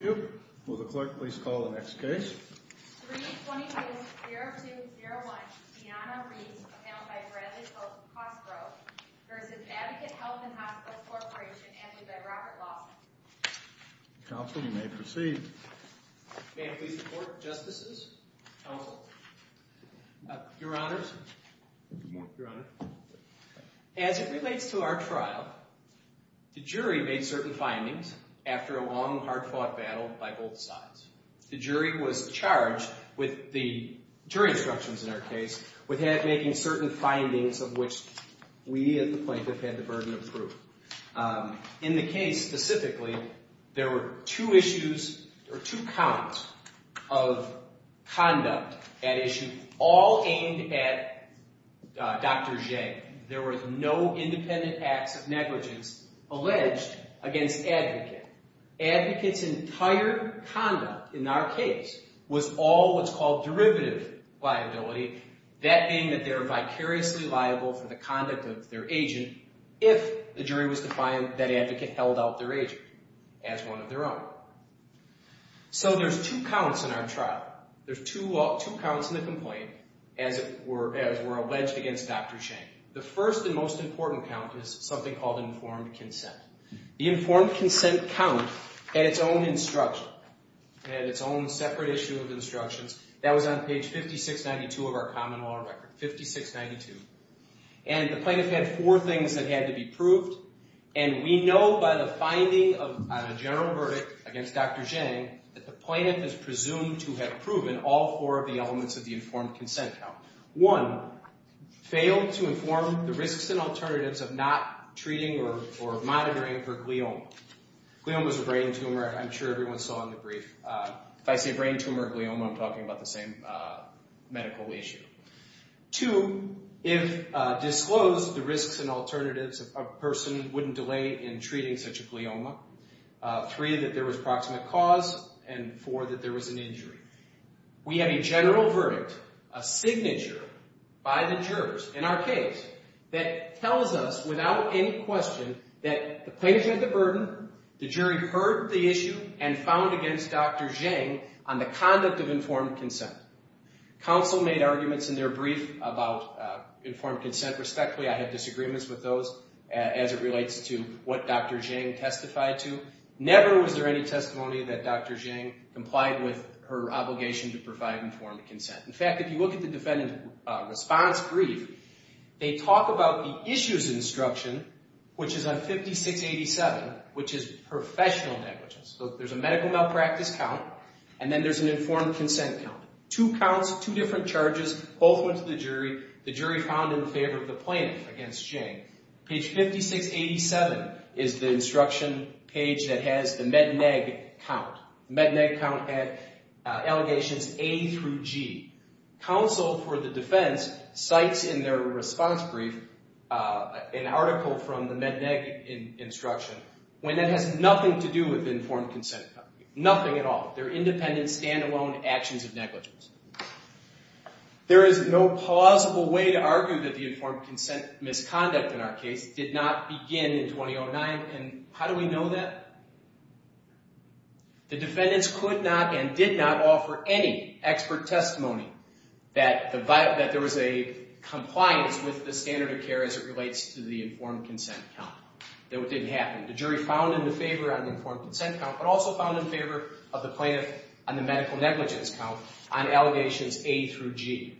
Thank you. Will the clerk please call the next case? 322-0201, Deanna Reeves, appailed by Bradley Costgrove v. Advocate Health & Hospitals Corp. amended by Robert Lawson. Counsel, you may proceed. May I please report, Justices? Counsel? Your Honors? Your Honor? As it relates to our trial, the jury made certain findings after a long, hard-fought battle by both sides. The jury was charged with the jury instructions in our case with making certain findings of which we at the plaintiff had the burden of proof. In the case specifically, there were two issues or two counts of conduct at issue, all aimed at Dr. J. There were no independent acts of negligence alleged against Advocate. Advocate's entire conduct in our case was all what's called derivative liability, that being that they're vicariously liable for the conduct of their agent if the jury was to find that Advocate held out their agent as one of their own. So there's two counts in our trial. There's two counts in the complaint as were alleged against Dr. J. The first and most important count is something called informed consent. The informed consent count had its own instruction, had its own separate issue of instructions. That was on page 5692 of our common law record, 5692. And the plaintiff had four things that had to be proved. And we know by the finding on a general verdict against Dr. J that the plaintiff is presumed to have proven all four of the elements of the informed consent count. One, failed to inform the risks and alternatives of not treating or monitoring for glioma. Glioma's a brain tumor, and I'm sure everyone saw in the brief. If I say brain tumor, glioma, I'm talking about the same medical issue. Two, if disclosed the risks and alternatives, a person wouldn't delay in treating such a glioma. Three, that there was proximate cause. And four, that there was an injury. We have a general verdict, a signature by the jurors in our case, that tells us without any question that the plaintiff had the burden, the jury heard the issue, and found against Dr. J on the conduct of informed consent. Counsel made arguments in their brief about informed consent respectfully. I had disagreements with those as it relates to what Dr. J testified to. Never was there any testimony that Dr. J complied with her obligation to provide informed consent. In fact, if you look at the defendant response brief, they talk about the issues instruction, which is on 5687, which is professional negligence. There's a medical malpractice count, and then there's an informed consent count. Two counts, two different charges, both went to the jury. The jury found in favor of the plaintiff against J. Page 5687 is the instruction page that has the Med Neg count. Med Neg count had allegations A through G. Counsel for the defense cites in their response brief an article from the Med Neg instruction when it has nothing to do with informed consent. Nothing at all. They're independent, stand-alone actions of negligence. There is no plausible way to argue that the informed consent misconduct in our case did not begin in 2009, and how do we know that? The defendants could not and did not offer any expert testimony that there was a compliance with the standard of care as it relates to the informed consent count. That it didn't happen. The jury found in the favor on the informed consent count, but also found in favor of the plaintiff on the medical negligence count on allegations A through G.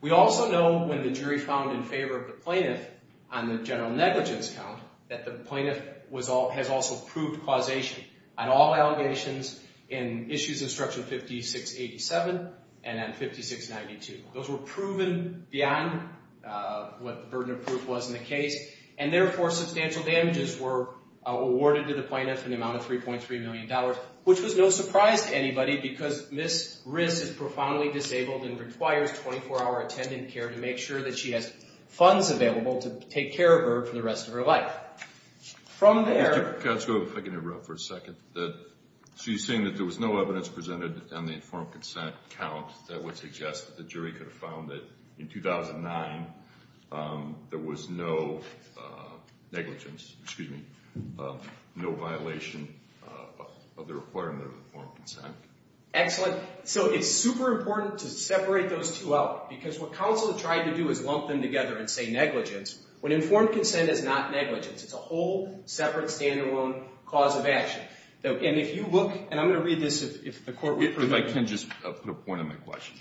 We also know when the jury found in favor of the plaintiff on the general negligence count that the plaintiff has also proved causation on all allegations in issues instruction 5687 and on 5692. Those were proven beyond what the burden of proof was in the case, and therefore substantial damages were awarded to the plaintiff in the amount of $3.3 million, which was no surprise to anybody because Ms. Riz is profoundly disabled and requires 24-hour attendant care to make sure that she has funds available to take care of her for the rest of her life. Mr. Picasso, if I can interrupt for a second. She's saying that there was no evidence presented on the informed consent count that would suggest that the jury could have found that in 2009 there was no negligence, excuse me, no violation of the requirement of informed consent. Excellent. So it's super important to separate those two out because what counsel tried to do is lump them together and say negligence. When informed consent is not negligence, it's a whole separate stand-alone cause of action. And if you look, and I'm going to read this if the court will. If I can just put a point on my question.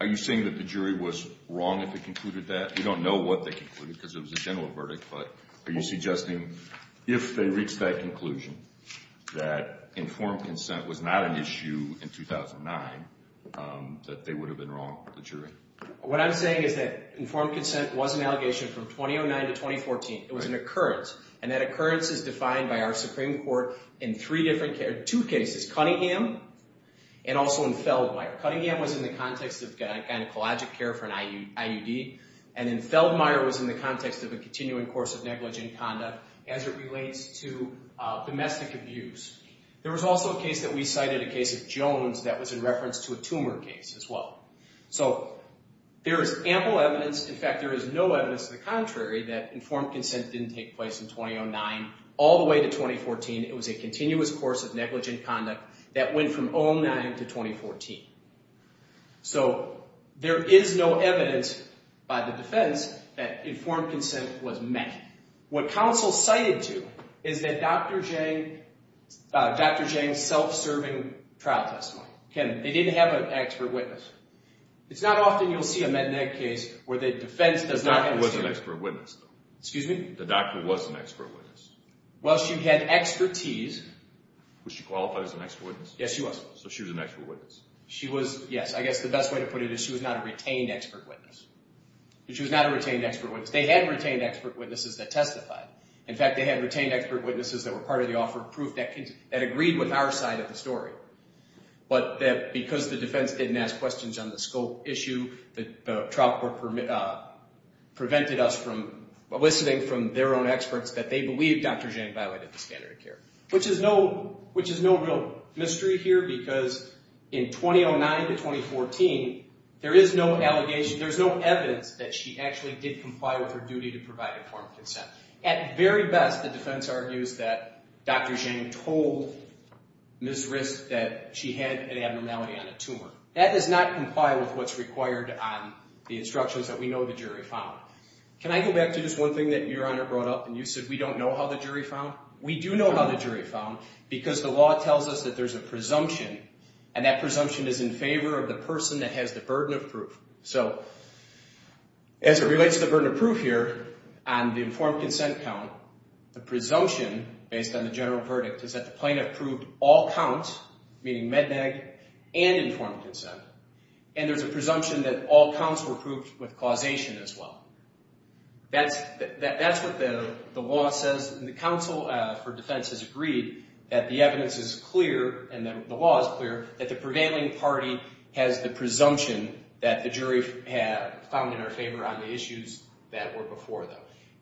Are you saying that the jury was wrong if they concluded that? We don't know what they concluded because it was a general verdict, but are you suggesting if they reached that conclusion that informed consent was not an issue in 2009 that they would have been wrong, the jury? What I'm saying is that informed consent was an allegation from 2009 to 2014. It was an occurrence, and that occurrence is defined by our Supreme Court in two cases, Cunningham and also in Feldmeier. Cunningham was in the context of gynecologic care for an IUD, and in Feldmeier was in the context of a continuing course of negligent conduct as it relates to domestic abuse. There was also a case that we cited, a case of Jones, that was in reference to a tumor case as well. So there is ample evidence. In fact, there is no evidence to the contrary that informed consent didn't take place in 2009 all the way to 2014. It was a continuous course of negligent conduct that went from 2009 to 2014. So there is no evidence by the defense that informed consent was met. What counsel cited to is that Dr. Jang's self-serving trial testimony. They didn't have an expert witness. It's not often you'll see a med-neg case where the defense does not have a student. The doctor was an expert witness, though. Excuse me? The doctor was an expert witness. Well, she had expertise. Was she qualified as an expert witness? Yes, she was. So she was an expert witness. She was, yes. I guess the best way to put it is she was not a retained expert witness. She was not a retained expert witness. They had retained expert witnesses that testified. In fact, they had retained expert witnesses that were part of the offer of proof that agreed with our side of the story. But because the defense didn't ask questions on the scope issue, the trial court prevented us from listening from their own experts that they believed Dr. Jang violated the standard of care. Which is no real mystery here because in 2009 to 2014, there is no evidence that she actually did comply with her duty to provide informed consent. At very best, the defense argues that Dr. Jang told Ms. Risk that she had an abnormality on a tumor. That does not comply with what's required on the instructions that we know the jury found. Can I go back to just one thing that Your Honor brought up? And you said we don't know how the jury found? We do know how the jury found because the law tells us that there's a presumption, and that presumption is in favor of the person that has the burden of proof. So as it relates to the burden of proof here, on the informed consent count, the presumption based on the general verdict is that the plaintiff proved all counts, meaning MEDNAG, and informed consent. And there's a presumption that all counts were proved with causation as well. That's what the law says, and the counsel for defense has agreed that the evidence is clear, and the law is clear, that the prevailing party has the presumption that the jury found in our favor on the issues that were before them.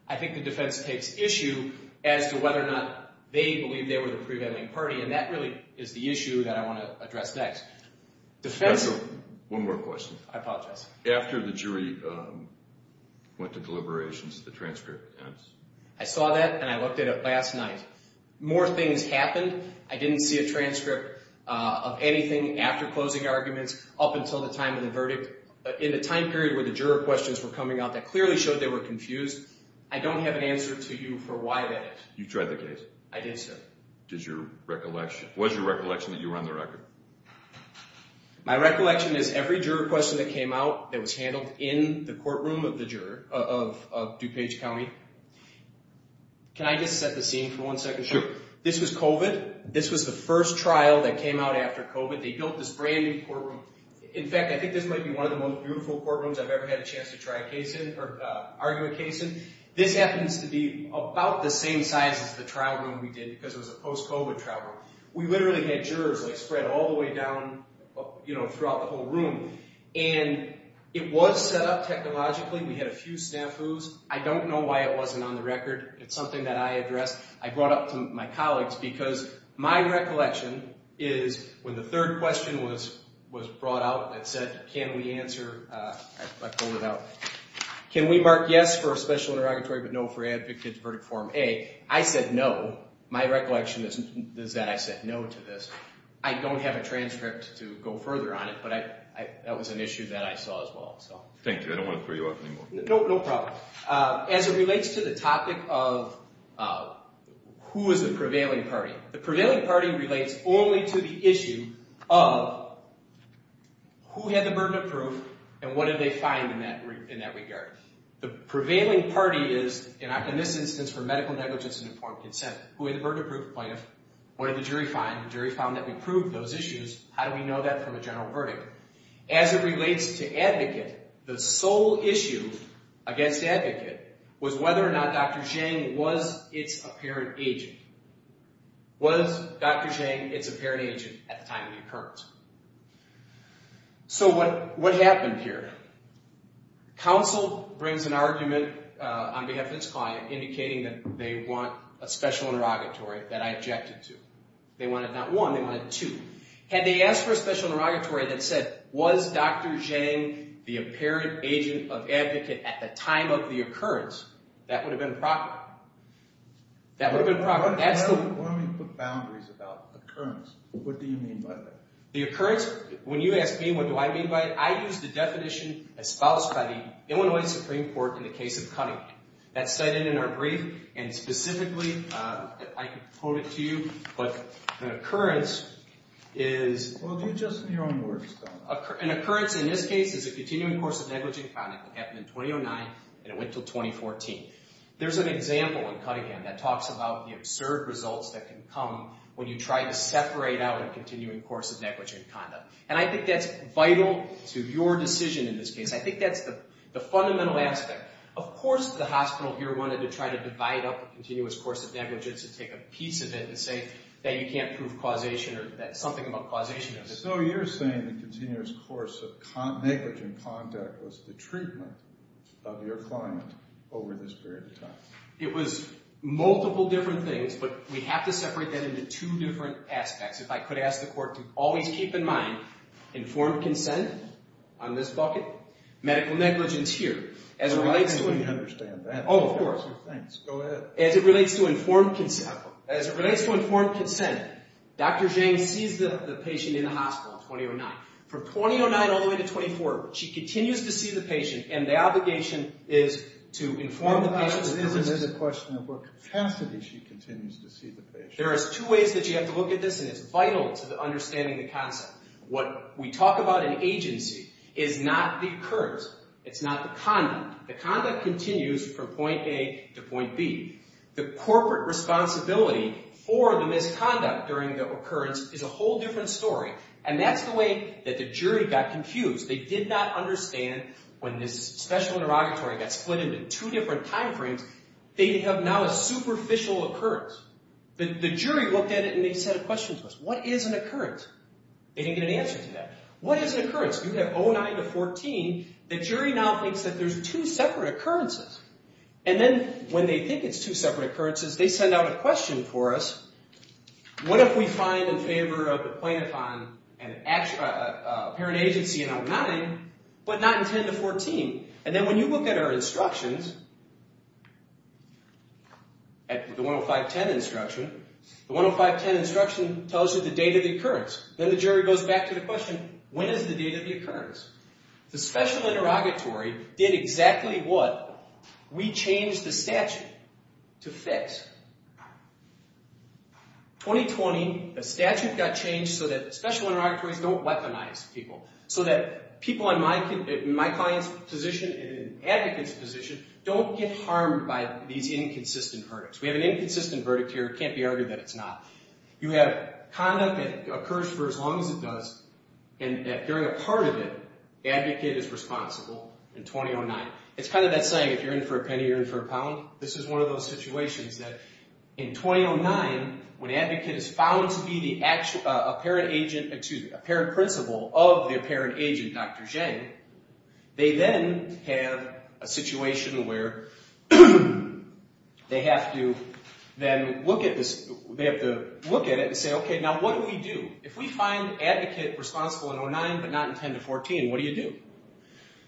I think the defense takes issue as to whether or not they believe they were the prevailing party, and that really is the issue that I want to address next. One more question. I apologize. After the jury went to deliberations, the transcript ends. I saw that, and I looked at it last night. More things happened. I didn't see a transcript of anything after closing arguments up until the time of the verdict. In the time period where the juror questions were coming out, that clearly showed they were confused. I don't have an answer to you for why that is. You've tried the case? I did, sir. Was your recollection that you were on the record? My recollection is every juror question that came out, that was handled in the courtroom of the juror of DuPage County. Can I just set the scene for one second? Sure. This was COVID. This was the first trial that came out after COVID. They built this brand-new courtroom. In fact, I think this might be one of the most beautiful courtrooms I've ever had a chance to try a case in or argue a case in. This happens to be about the same size as the trial room we did because it was a post-COVID trial room. We literally had jurors spread all the way down throughout the whole room, and it was set up technologically. We had a few snafus. I don't know why it wasn't on the record. It's something that I addressed. I brought up to my colleagues because my recollection is when the third question was brought out that said, can we answer, I pulled it out, can we mark yes for a special interrogatory but no for advocate's verdict form A, I said no. My recollection is that I said no to this. I don't have a transcript to go further on it, but that was an issue that I saw as well. Thank you. I don't want to throw you off anymore. No problem. As it relates to the topic of who is the prevailing party, the prevailing party relates only to the issue of who had the burden of proof and what did they find in that regard. The prevailing party is, in this instance for medical negligence and informed consent, who had the burden of proof plaintiff, what did the jury find? The jury found that we proved those issues. How do we know that from a general verdict? As it relates to advocate, the sole issue against advocate was whether or not Dr. Zhang was its apparent agent. Was Dr. Zhang its apparent agent at the time it occurred? So what happened here? Counsel brings an argument on behalf of its client indicating that they want a special interrogatory that I objected to. They wanted not one, they wanted two. Had they asked for a special interrogatory that said, was Dr. Zhang the apparent agent of advocate at the time of the occurrence, that would have been a problem. That would have been a problem. Why don't we put boundaries about occurrence? What do you mean by that? The occurrence, when you ask me what do I mean by it, I use the definition espoused by the Illinois Supreme Court in the case of Cunningham. That's cited in our brief, and specifically I can quote it to you, but an occurrence is an occurrence in this case is a continuing course of negligent conduct that happened in 2009 and it went until 2014. There's an example in Cunningham that talks about the absurd results that can come when you try to separate out a continuing course of negligent conduct, and I think that's vital to your decision in this case. I think that's the fundamental aspect. Of course the hospital here wanted to try to divide up a continuous course of that you can't prove causation or something about causation. So you're saying the continuous course of negligent conduct was the treatment of your client over this period of time? It was multiple different things, but we have to separate that into two different aspects. If I could ask the court to always keep in mind informed consent on this bucket, medical negligence here. I think we understand that. Oh, of course. Go ahead. As it relates to informed consent, as it relates to informed consent, Dr. Zhang sees the patient in the hospital in 2009. From 2009 all the way to 2014, she continues to see the patient, and the obligation is to inform the patient. It is a question of what capacity she continues to see the patient. There is two ways that you have to look at this, and it's vital to understanding the concept. What we talk about in agency is not the occurrence. It's not the conduct. The conduct continues from point A to point B. The corporate responsibility for the misconduct during the occurrence is a whole different story, and that's the way that the jury got confused. They did not understand when this special interrogatory got split into two different time frames, they have now a superficial occurrence. The jury looked at it, and they said a question to us. What is an occurrence? They didn't get an answer to that. What is an occurrence? You have 2009 to 2014. The jury now thinks that there's two separate occurrences, and then when they think it's two separate occurrences, they send out a question for us. What if we find in favor of the plaintiff on an apparent agency in 2009, but not in 2010 to 2014? And then when you look at our instructions, at the 10510 instruction, the 10510 instruction tells you the date of the occurrence. Then the jury goes back to the question, when is the date of the occurrence? The special interrogatory did exactly what we changed the statute to fix. 2020, the statute got changed so that special interrogatories don't weaponize people, so that people in my client's position and in an advocate's position don't get harmed by these inconsistent verdicts. We have an inconsistent verdict here. It can't be argued that it's not. You have conduct that occurs for as long as it does, and that during a part of it, the advocate is responsible in 2009. It's kind of that saying, if you're in for a penny, you're in for a pound. This is one of those situations that in 2009, when an advocate is found to be the apparent principal of the apparent agent, Dr. Zhang, they then have a situation where they have to look at it and say, okay, now what do we do? If we find advocate responsible in 2009 but not in 2010-2014, what do you do?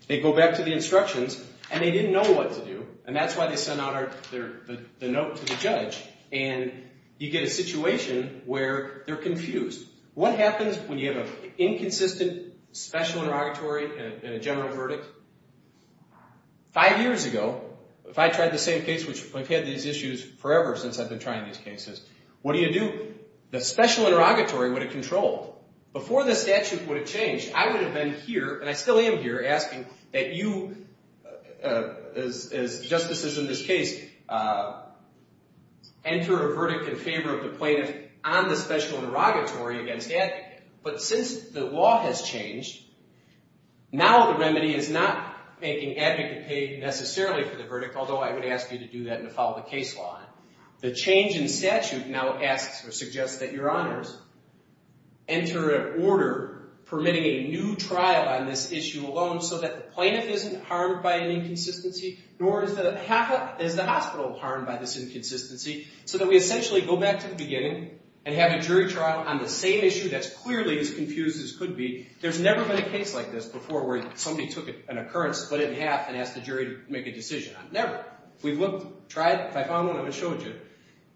They go back to the instructions, and they didn't know what to do, and that's why they sent out the note to the judge, and you get a situation where they're confused. What happens when you have an inconsistent special interrogatory and a general verdict? Five years ago, if I tried the same case, which I've had these issues forever since I've been trying these cases, what do you do? The special interrogatory would have controlled. Before the statute would have changed, I would have been here, and I still am here, asking that you, as justices in this case, enter a verdict in favor of the plaintiff on the special interrogatory against advocate. But since the law has changed, now the remedy is not making advocate pay necessarily for the verdict, although I would ask you to do that and to follow the case law. The change in statute now asks or suggests that your honors enter an order permitting a new trial on this issue alone so that the plaintiff isn't harmed by an inconsistency, nor is the hospital harmed by this inconsistency, so that we essentially go back to the beginning and have a jury trial on the same issue that's clearly as confused as could be. There's never been a case like this before where somebody took an occurrence, split it in half, and asked the jury to make a decision. Never. If I found one, I would have showed you.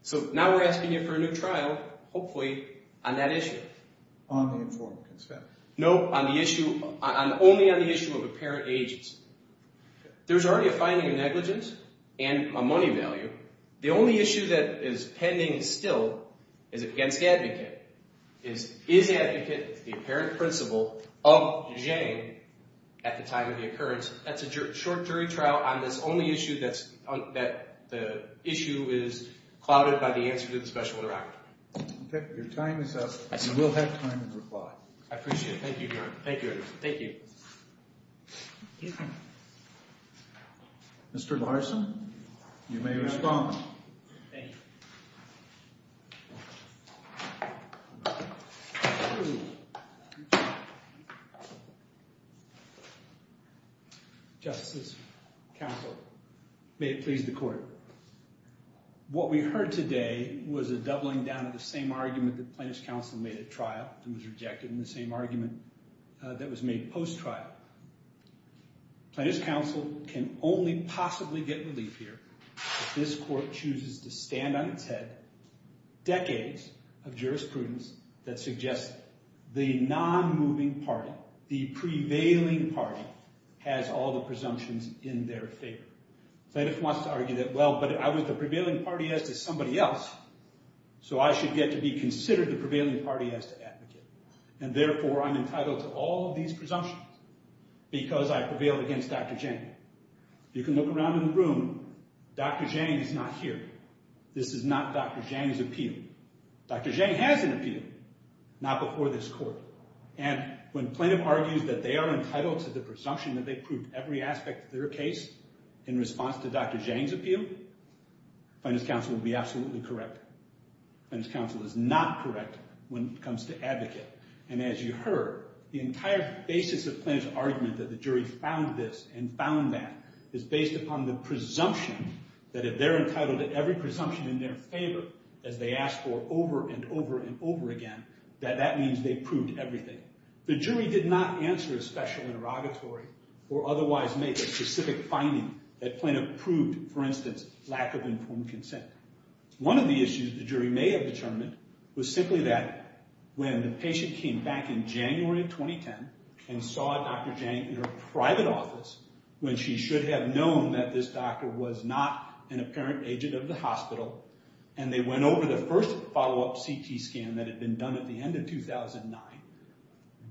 So now we're asking you for a new trial, hopefully, on that issue. No, only on the issue of apparent agency. There's already a finding of negligence and a money value. The only issue that is pending still is against the advocate. Is the advocate the apparent principal of Jane at the time of the occurrence? That's a short jury trial on this only issue that the issue is clouded by the answer to the special interrogatory. Your time is up. You will have time to reply. I appreciate it. Thank you, Your Honor. Thank you, Your Honor. Thank you. Mr. Larson, you may respond. Thank you. Justices, counsel, may it please the court. What we heard today was a doubling down of the same argument that plaintiff's counsel made at trial and was rejected in the same argument that was made post-trial. Plaintiff's counsel can only possibly get relief here if this court chooses to stand on its head decades of jurisprudence that suggests the non-moving party, the prevailing party, has all the presumptions in their favor. Plaintiff wants to argue that, well, but I was the prevailing party as to somebody else, so I should get to be considered the prevailing party as to advocate. And therefore, I'm entitled to all of these presumptions because I prevailed against Dr. Jane. You can look around in the room. Dr. Jane is not here. This is not Dr. Jane's appeal. Dr. Jane has an appeal, not before this court. And when plaintiff argues that they are entitled to the presumption that they proved every aspect of their case, in response to Dr. Jane's appeal, plaintiff's counsel will be absolutely correct. Plaintiff's counsel is not correct when it comes to advocate. And as you heard, the entire basis of plaintiff's argument that the jury found this and found that is based upon the presumption that if they're entitled to every presumption in their favor, as they asked for over and over and over again, that that means they proved everything. The jury did not answer a special interrogatory or otherwise make a specific finding that plaintiff proved, for instance, lack of informed consent. One of the issues the jury may have determined was simply that when the patient came back in January of 2010 and saw Dr. Jane in her private office, when she should have known that this doctor was not an apparent agent of the hospital, and they went over the first follow-up CT scan that had been done at the end of 2009,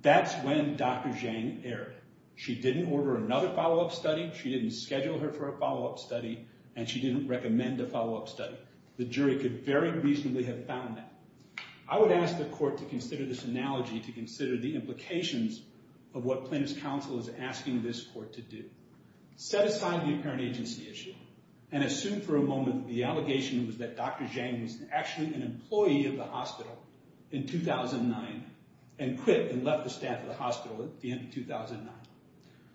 that's when Dr. Jane erred. She didn't order another follow-up study, she didn't schedule her for a follow-up study, and she didn't recommend a follow-up study. The jury could very reasonably have found that. I would ask the court to consider this analogy, to consider the implications of what plaintiff's counsel is asking this court to do. Set aside the apparent agency issue and assume for a moment that the allegation was that Dr. Jane was actually an employee of the hospital in 2009 and quit and left the staff of the hospital at the end of 2009.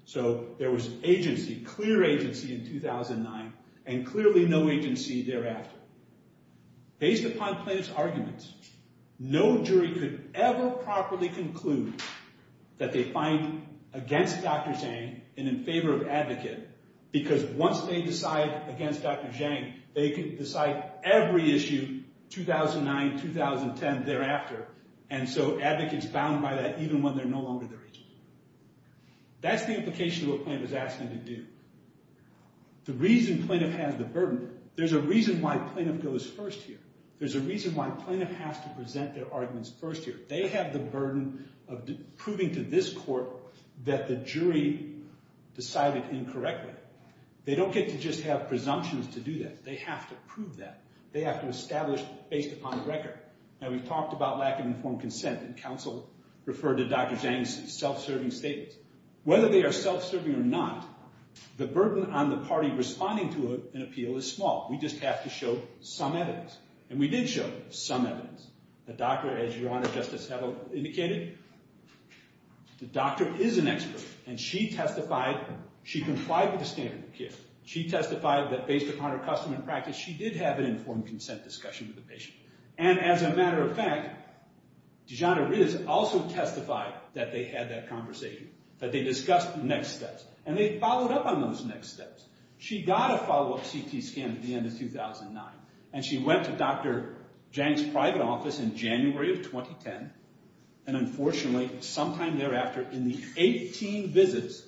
So there was agency, clear agency in 2009, and clearly no agency thereafter. Based upon plaintiff's arguments, no jury could ever properly conclude that they find against Dr. Jane and in favor of Advocate, because once they decide against Dr. Jane, they could decide every issue 2009, 2010 thereafter, and so Advocate's bound by that even when they're no longer their agents. That's the implication of what plaintiff is asking them to do. The reason plaintiff has the burden, there's a reason why plaintiff goes first here. There's a reason why plaintiff has to present their arguments first here. They have the burden of proving to this court that the jury decided incorrectly. They don't get to just have presumptions to do that. They have to prove that. They have to establish based upon the record. Now, we've talked about lack of informed consent, and counsel referred to Dr. Jane's self-serving statements. Whether they are self-serving or not, the burden on the party responding to an appeal is small. We just have to show some evidence, and we did show some evidence. The doctor, as your Honor, Justice, have indicated, the doctor is an expert, and she testified. She complied with the standard of care. She testified that based upon her custom and practice, she did have an informed consent discussion with the patient, and as a matter of fact, DeJohnna Riz also testified that they had that conversation, that they discussed the next steps, and they followed up on those next steps. She got a follow-up CT scan at the end of 2009, and she went to Dr. Jang's private office in January of 2010, and unfortunately, sometime thereafter, in the 18 visits,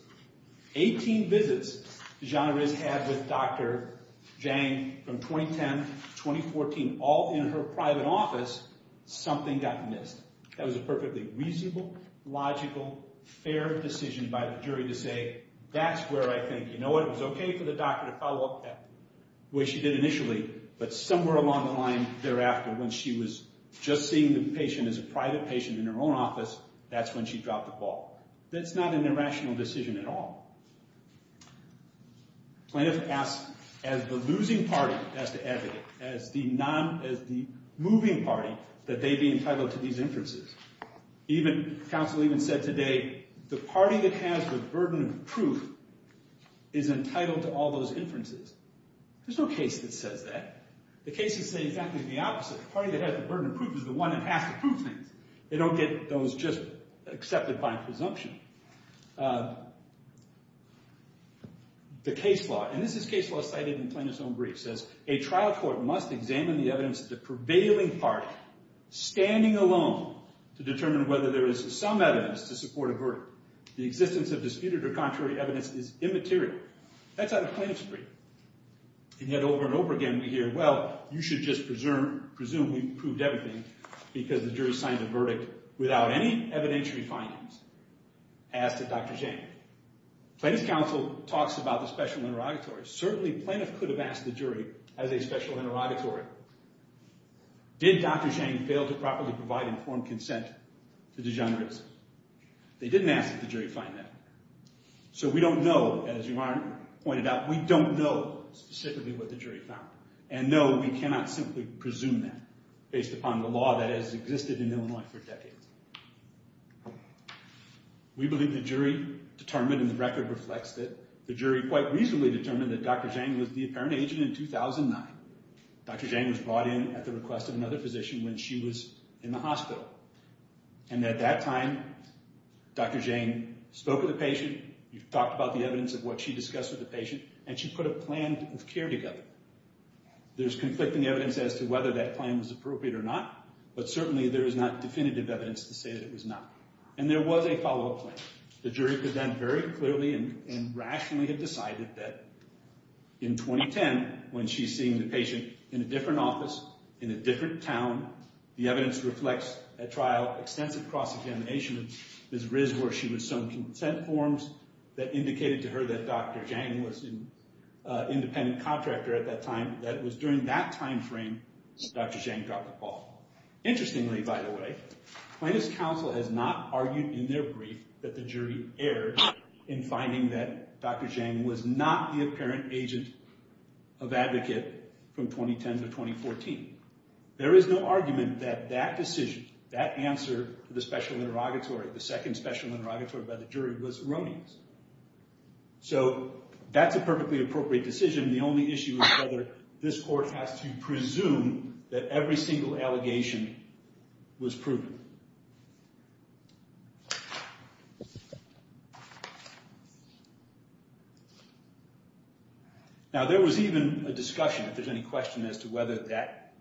18 visits DeJohnna Riz had with Dr. Jang from 2010 to 2014, being all in her private office, something got missed. That was a perfectly reasonable, logical, fair decision by the jury to say, that's where I think, you know what, it was okay for the doctor to follow up that way she did initially, but somewhere along the line thereafter, when she was just seeing the patient as a private patient in her own office, that's when she dropped the ball. That's not an irrational decision at all. Plaintiff asks, as the losing party, as the advocate, as the moving party, that they be entitled to these inferences. Even, counsel even said today, the party that has the burden of proof is entitled to all those inferences. There's no case that says that. The cases say exactly the opposite. The party that has the burden of proof is the one that has to prove things. They don't get those just accepted by presumption. The case law, and this is case law cited in Plaintiff's own brief, says, a trial court must examine the evidence of the prevailing party, standing alone, to determine whether there is some evidence to support a verdict. The existence of disputed or contrary evidence is immaterial. That's out of plaintiff's brief. And yet, over and over again, we hear, well, you should just presume we proved everything, because the jury signed a verdict without any evidentiary findings, as did Dr. Jang. Plaintiff's counsel talks about the special interrogatory. Certainly, plaintiff could have asked the jury, as a special interrogatory, did Dr. Jang fail to properly provide informed consent to the degenerates? They didn't ask that the jury find that. So we don't know, as you pointed out, we don't know specifically what the jury found. And no, we cannot simply presume that, based upon the law that has existed in Illinois for decades. We believe the jury determined, and the record reflects it, the jury quite reasonably determined that Dr. Jang was the apparent agent in 2009. Dr. Jang was brought in at the request of another physician when she was in the hospital. And at that time, Dr. Jang spoke with the patient, talked about the evidence of what she discussed with the patient, and she put a plan of care together. There's conflicting evidence as to whether that plan was appropriate or not, but certainly there is not definitive evidence to say that it was not. And there was a follow-up plan. The jury could then very clearly and rationally have decided that in 2010, when she's seeing the patient in a different office, in a different town, the evidence reflects a trial, extensive cross-examination of Ms. Riz where she was shown consent forms that indicated to her that Dr. Jang was an independent contractor at that time. And it was during that time frame that Dr. Jang dropped the ball. Interestingly, by the way, Plaintiffs' Counsel has not argued in their brief that the jury erred in finding that Dr. Jang was not the apparent agent of advocate from 2010 to 2014. There is no argument that that decision, that answer to the special interrogatory, the second special interrogatory by the jury, was erroneous. So that's a perfectly appropriate decision. The only issue is whether this court has to presume that every single allegation was proven. Now there was even a discussion, if there's any question as to whether that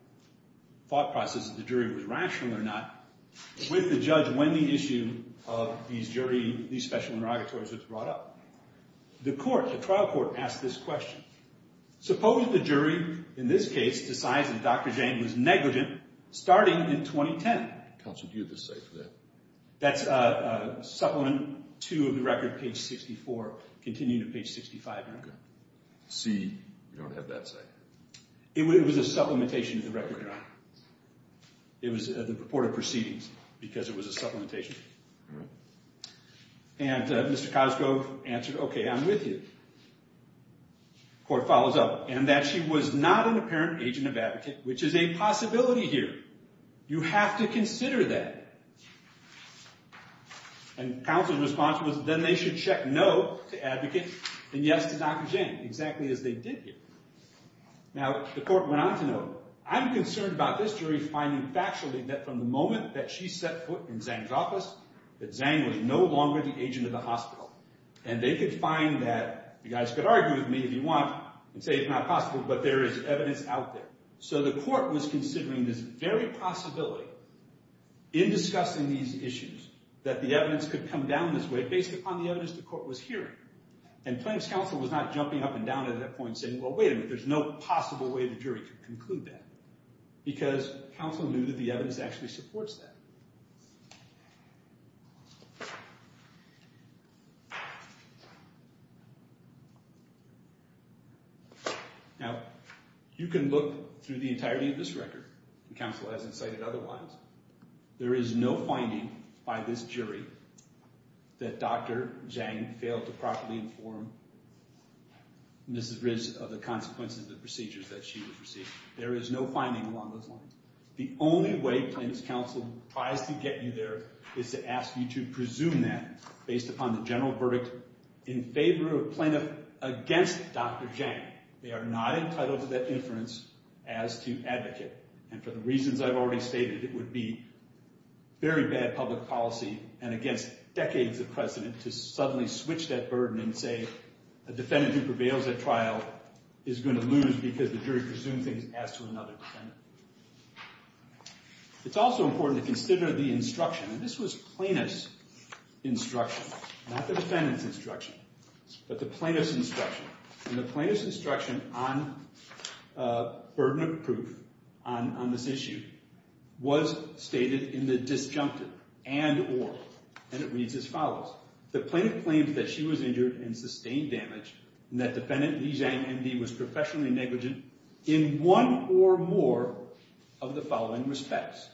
thought process of the jury was rational or not, with the judge when the issue of these special interrogatories was brought up. The court, the trial court, asked this question. Suppose the jury, in this case, decides that Dr. Jang was negligent starting in 2010. Counsel, do you have a say for that? That's Supplement 2 of the record, page 64, continuing to page 65. C, you don't have that say. It was a supplementation of the record, Your Honor. It was the purported proceedings because it was a supplementation. And Mr. Cosgrove answered, OK, I'm with you. Court follows up. And that she was not an apparent agent of advocate, which is a possibility here. You have to consider that. And counsel's response was, then they should check no to advocate and yes to Dr. Jang, exactly as they did here. Now the court went on to note, I'm concerned about this jury finding factually that from the moment that she set foot in Zhang's office, that Zhang was no longer the agent of the hospital. And they could find that, you guys could argue with me if you want and say it's not possible, but there is evidence out there. So the court was considering this very possibility in discussing these issues, that the evidence could come down this way based upon the evidence the court was hearing. And plaintiff's counsel was not jumping up and down at that point saying, well, wait a minute, there's no possible way the jury could conclude that. Because counsel knew that the evidence actually supports that. Now, you can look through the entirety of this record. Counsel hasn't cited otherwise. There is no finding by this jury that Dr. Jang failed to properly inform Mrs. Riz of the consequences of the procedures that she received. There is no finding along those lines. The only way plaintiff's counsel tries to get you there is to ask you to presume that, based upon the general verdict in favor of plaintiff against Dr. Jang. They are not entitled to that inference as to advocate. And for the reasons I've already stated, it would be very bad public policy, and against decades of precedent, to suddenly switch that burden and say, a defendant who prevails at trial is going to lose because the jury presumes things as to another defendant. It's also important to consider the instruction. And this was plaintiff's instruction, not the defendant's instruction. But the plaintiff's instruction. And the plaintiff's instruction on burden of proof on this issue was stated in the disjunctive and or. And it reads as follows. The plaintiff claims that she was injured and sustained damage, and that defendant Lee Jang MD was professionally negligent in one or more of the following respects.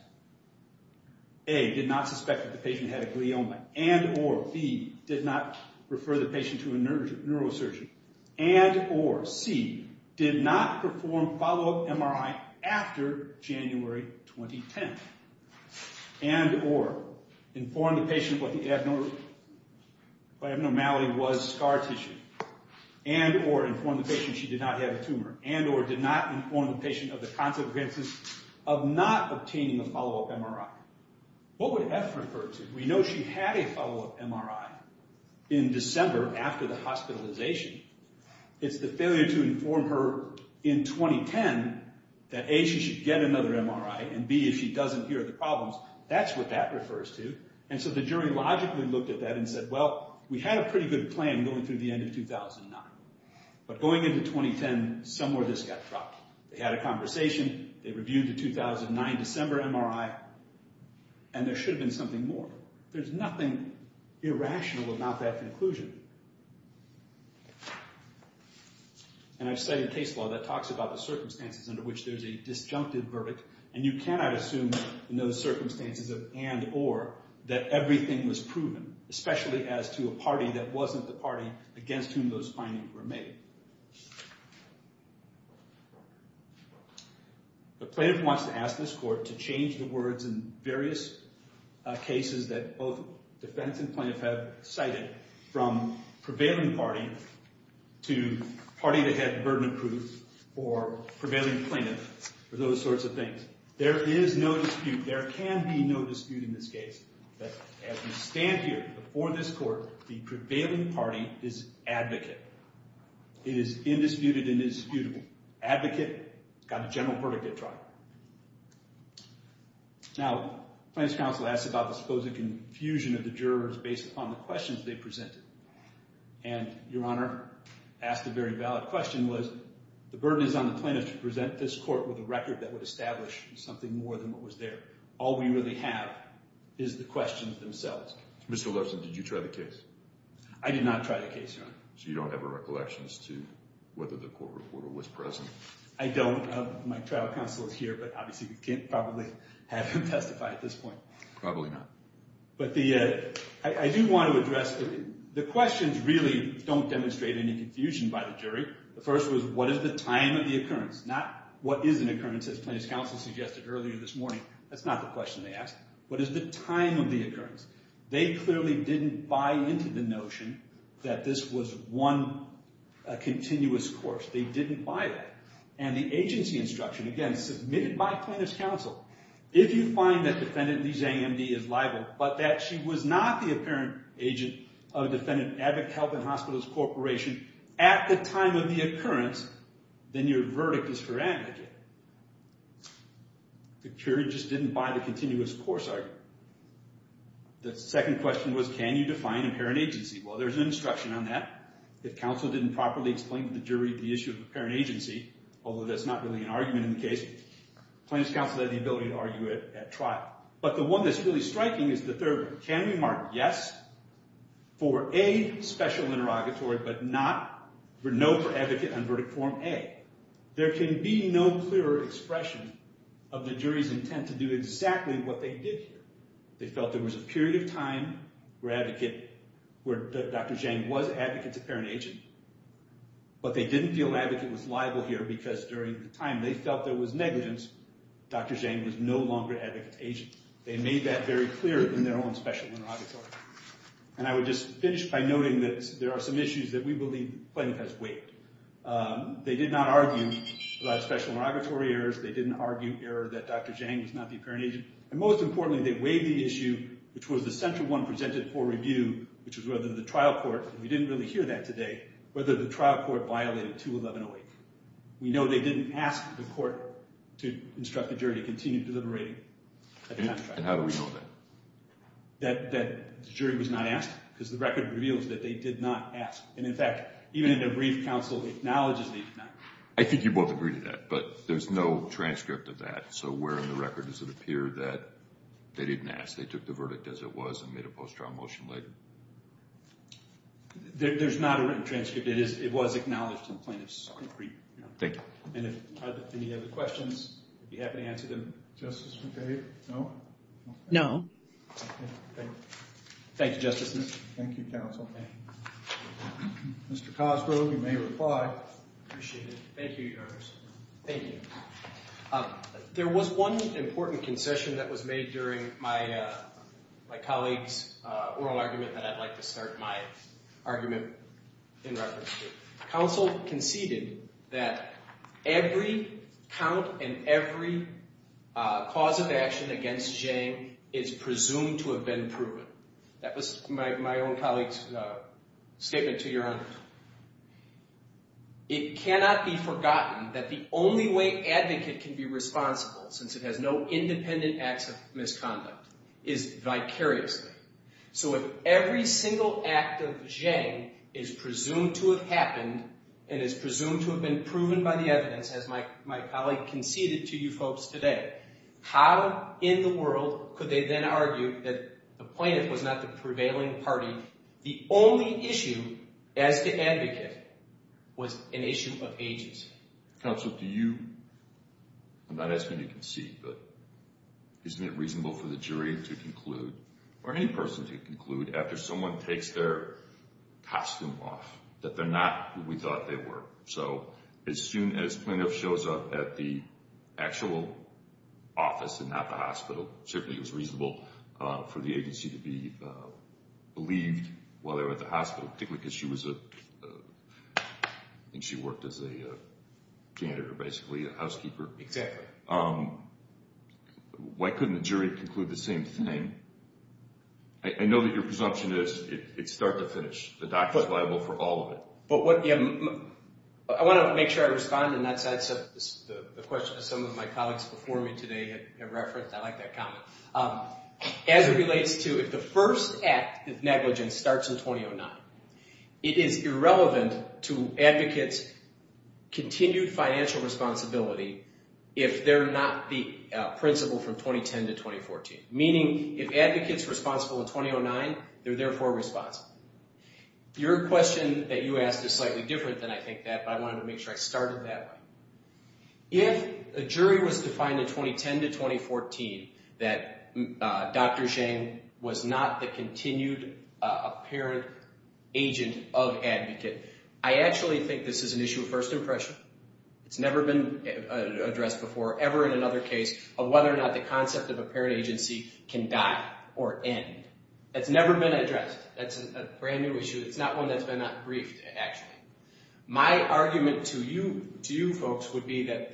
A, did not suspect that the patient had a glioma, and or. B, did not refer the patient to a neurosurgeon, and or. C, did not perform follow-up MRI after January 2010, and or. Inform the patient what the abnormality was, scar tissue. And or inform the patient she did not have a tumor. And or did not inform the patient of the consequences of not obtaining the follow-up MRI. What would F refer to? We know she had a follow-up MRI in December after the hospitalization. It's the failure to inform her in 2010 that A, she should get another MRI, and B, if she doesn't hear the problems, that's what that refers to. And so the jury logically looked at that and said, well, we had a pretty good plan going through the end of 2009. But going into 2010, somewhere this got dropped. They had a conversation, they reviewed the 2009 December MRI, and there should have been something more. There's nothing irrational about that conclusion. And I've studied case law that talks about the circumstances under which there's a disjunctive verdict, and you cannot assume in those circumstances of and or that everything was proven, especially as to a party that wasn't the party against whom those findings were made. The plaintiff wants to ask this court to change the words in various cases that both defense and plaintiff have cited, from prevailing party to party that had burden of proof, or prevailing plaintiff, or those sorts of things. There is no dispute. There can be no dispute in this case. But as we stand here before this court, the prevailing party is advocate. It is indisputed and indisputable. Advocate got a general verdict at trial. Now, plaintiff's counsel asked about the supposed confusion of the jurors based upon the questions they presented. And Your Honor, asked a very valid question was, the burden is on the plaintiff to present this court with a record that would establish something more than what was there. All we really have is the questions themselves. Mr. Levinson, did you try the case? I did not try the case, Your Honor. So you don't have a recollection as to whether the court reporter was present? I don't. My trial counsel is here, but obviously we can't probably have him testify at this point. Probably not. But I do want to address the questions really don't demonstrate any confusion by the jury. The first was, what is the time of the occurrence? Not what is an occurrence, as plaintiff's counsel suggested earlier this morning. That's not the question they asked. What is the time of the occurrence? They clearly didn't buy into the notion that this was one continuous course. They didn't buy that. And the agency instruction, again, submitted by plaintiff's counsel, if you find that defendant Lee Zang MD is liable, but that she was not the apparent agent of defendant Abbott Health and Hospitals Corporation at the time of the occurrence, then your verdict is for Abbott again. The jury just didn't buy the continuous course argument. The second question was, can you define apparent agency? Well, there's an instruction on that. If counsel didn't properly explain to the jury the issue of apparent agency, although that's not really an argument in the case, plaintiff's counsel had the ability to argue it at trial. But the one that's really striking is the third one. Can we mark yes for A, special interrogatory, but no for advocate on verdict form A? There can be no clearer expression of the jury's intent to do exactly what they did here. They felt there was a period of time where Dr. Zhang was advocate's apparent agent. But they didn't feel an advocate was liable here, because during the time they felt there was negligence, Dr. Zhang was no longer advocate's agent. They made that very clear in their own special interrogatory. And I would just finish by noting that there are some issues that we believe plaintiff has waived. They did not argue about special interrogatory errors. They didn't argue error that Dr. Zhang was not the apparent agent. And most importantly, they waived the issue which was the central one presented for review, which was whether the trial court, and we didn't really hear that today, whether the trial court violated 211-08. We know they didn't ask the court to instruct the jury to continue deliberating. And how do we know that? That the jury was not asked, because the record reveals that they did not ask. And, in fact, even in their brief counsel acknowledges they did not. I think you both agree to that, but there's no transcript of that. So where in the record does it appear that they didn't ask, they took the verdict as it was and made a post-trial motion later? There's not a written transcript. It was acknowledged in plaintiff's brief. Thank you. And if you have any other questions, I'd be happy to answer them. Justice McCabe, no? No. Thank you, Justice. Thank you, counsel. Mr. Cosgrove, you may reply. I appreciate it. Thank you, Your Honor. Thank you. There was one important concession that was made during my colleague's oral argument that I'd like to start my argument in reference to. Counsel conceded that every count and every cause of action against Jang is presumed to have been proven. That was my own colleague's statement to Your Honor. It cannot be forgotten that the only way an advocate can be responsible, since it has no independent acts of misconduct, is vicariously. So if every single act of Jang is presumed to have happened and is presumed to have been proven by the evidence, as my colleague conceded to you folks today, how in the world could they then argue that the plaintiff was not the prevailing party? The only issue as the advocate was an issue of agency. Counsel, do you, I'm not asking you to concede, but isn't it reasonable for the jury to conclude, or any person to conclude, after someone takes their costume off, that they're not who we thought they were? So as soon as plaintiff shows up at the actual office and not the hospital, certainly it was reasonable for the agency to be believed while they were at the hospital, particularly because she was a, I think she worked as a janitor, basically, a housekeeper. Exactly. Why couldn't the jury conclude the same thing? I know that your presumption is it's start to finish. The doc is liable for all of it. But what, yeah, I want to make sure I respond, and that's the question that some of my colleagues before me today have referenced. I like that comment. As it relates to if the first act of negligence starts in 2009, it is irrelevant to advocates' continued financial responsibility if they're not the principal from 2010 to 2014, meaning if advocate's responsible in 2009, they're therefore responsible. Your question that you asked is slightly different than I think that, but I wanted to make sure I started that way. If a jury was to find in 2010 to 2014 that Dr. Jane was not the continued apparent agent of advocate, I actually think this is an issue of first impression. It's never been addressed before, ever in another case, of whether or not the concept of apparent agency can die or end. It's never been addressed. That's a brand-new issue. It's not one that's been briefed, actually. My argument to you folks would be that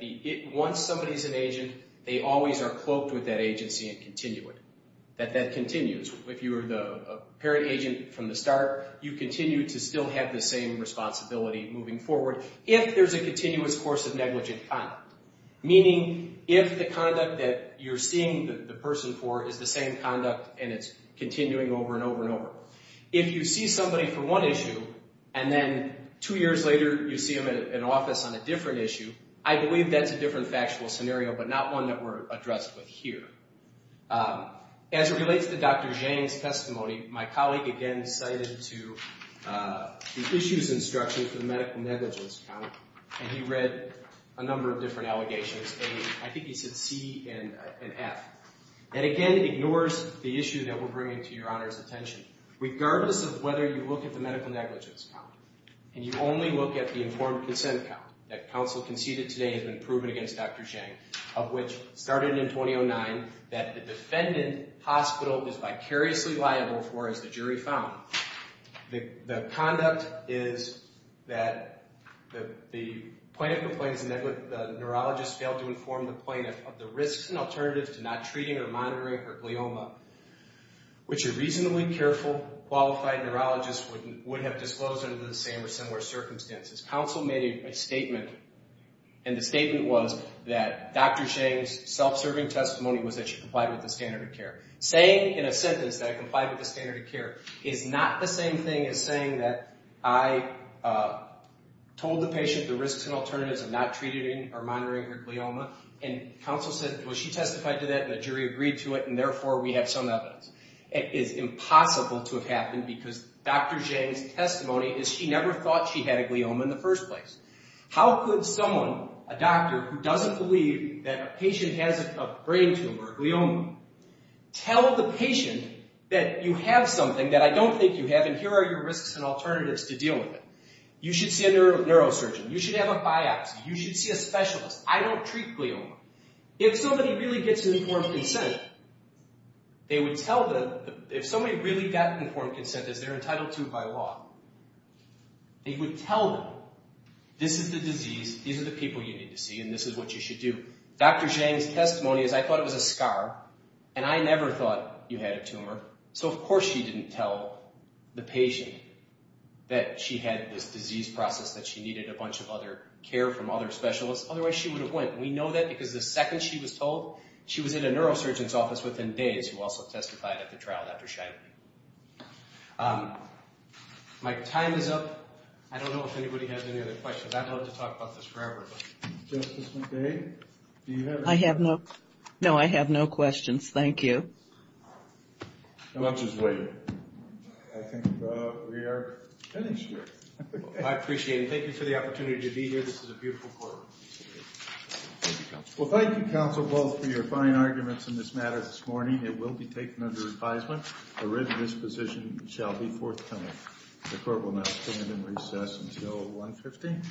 once somebody's an agent, they always are cloaked with that agency and continue it, that that continues. If you were the apparent agent from the start, you continue to still have the same responsibility moving forward if there's a continuous course of negligent conduct, meaning if the conduct that you're seeing the person for is the same conduct and it's continuing over and over and over. If you see somebody for one issue and then two years later you see them in an office on a different issue, I believe that's a different factual scenario, but not one that we're addressed with here. As it relates to Dr. Jane's testimony, my colleague again cited the issues instruction for the medical negligence count, and he read a number of different allegations. I think he said C and F. That, again, ignores the issue that we're bringing to Your Honor's attention. Regardless of whether you look at the medical negligence count and you only look at the informed consent count that counsel conceded today has been proven against Dr. Jane, of which started in 2009, that the defendant hospital is vicariously liable for, as the jury found, the conduct is that the plaintiff complains the neurologist failed to inform the plaintiff of the risks and alternatives to not treating or monitoring her glioma, which a reasonably careful, qualified neurologist would have disclosed under the same or similar circumstances. Counsel made a statement, and the statement was that Dr. Jane's self-serving testimony was that she complied with the standard of care. Saying in a sentence that I complied with the standard of care is not the same thing as saying that I told the patient the risks and alternatives of not treating or monitoring her glioma and counsel said, well, she testified to that and the jury agreed to it, and therefore we have some evidence. It is impossible to have happened because Dr. Jane's testimony is she never thought she had a glioma in the first place. How could someone, a doctor, who doesn't believe that a patient has a brain tumor, a glioma, tell the patient that you have something that I don't think you have and here are your risks and alternatives to dealing with it? You should see a neurosurgeon. You should have a biopsy. You should see a specialist. I don't treat glioma. If somebody really gets informed consent, they would tell them, if somebody really got informed consent as they're entitled to by law, they would tell them this is the disease, these are the people you need to see, and this is what you should do. Dr. Jane's testimony is I thought it was a scar, and I never thought you had a tumor, so of course she didn't tell the patient that she had this disease process, that she needed a bunch of other care from other specialists. Otherwise she would have went. We know that because the second she was told, she was in a neurosurgeon's office within days who also testified at the trial after she died. My time is up. I don't know if anybody has any other questions. I'd love to talk about this forever. Justice McVeigh, do you have any questions? No, I have no questions. Thank you. The lunch is waiting. I think we are finished here. I appreciate it. Thank you for the opportunity to be here. This is a beautiful court. Thank you, counsel. Well, thank you, counsel, both, for your fine arguments in this matter this morning. It will be taken under advisement. The written disposition shall be forthcoming. The court will now stand in recess until 1.15.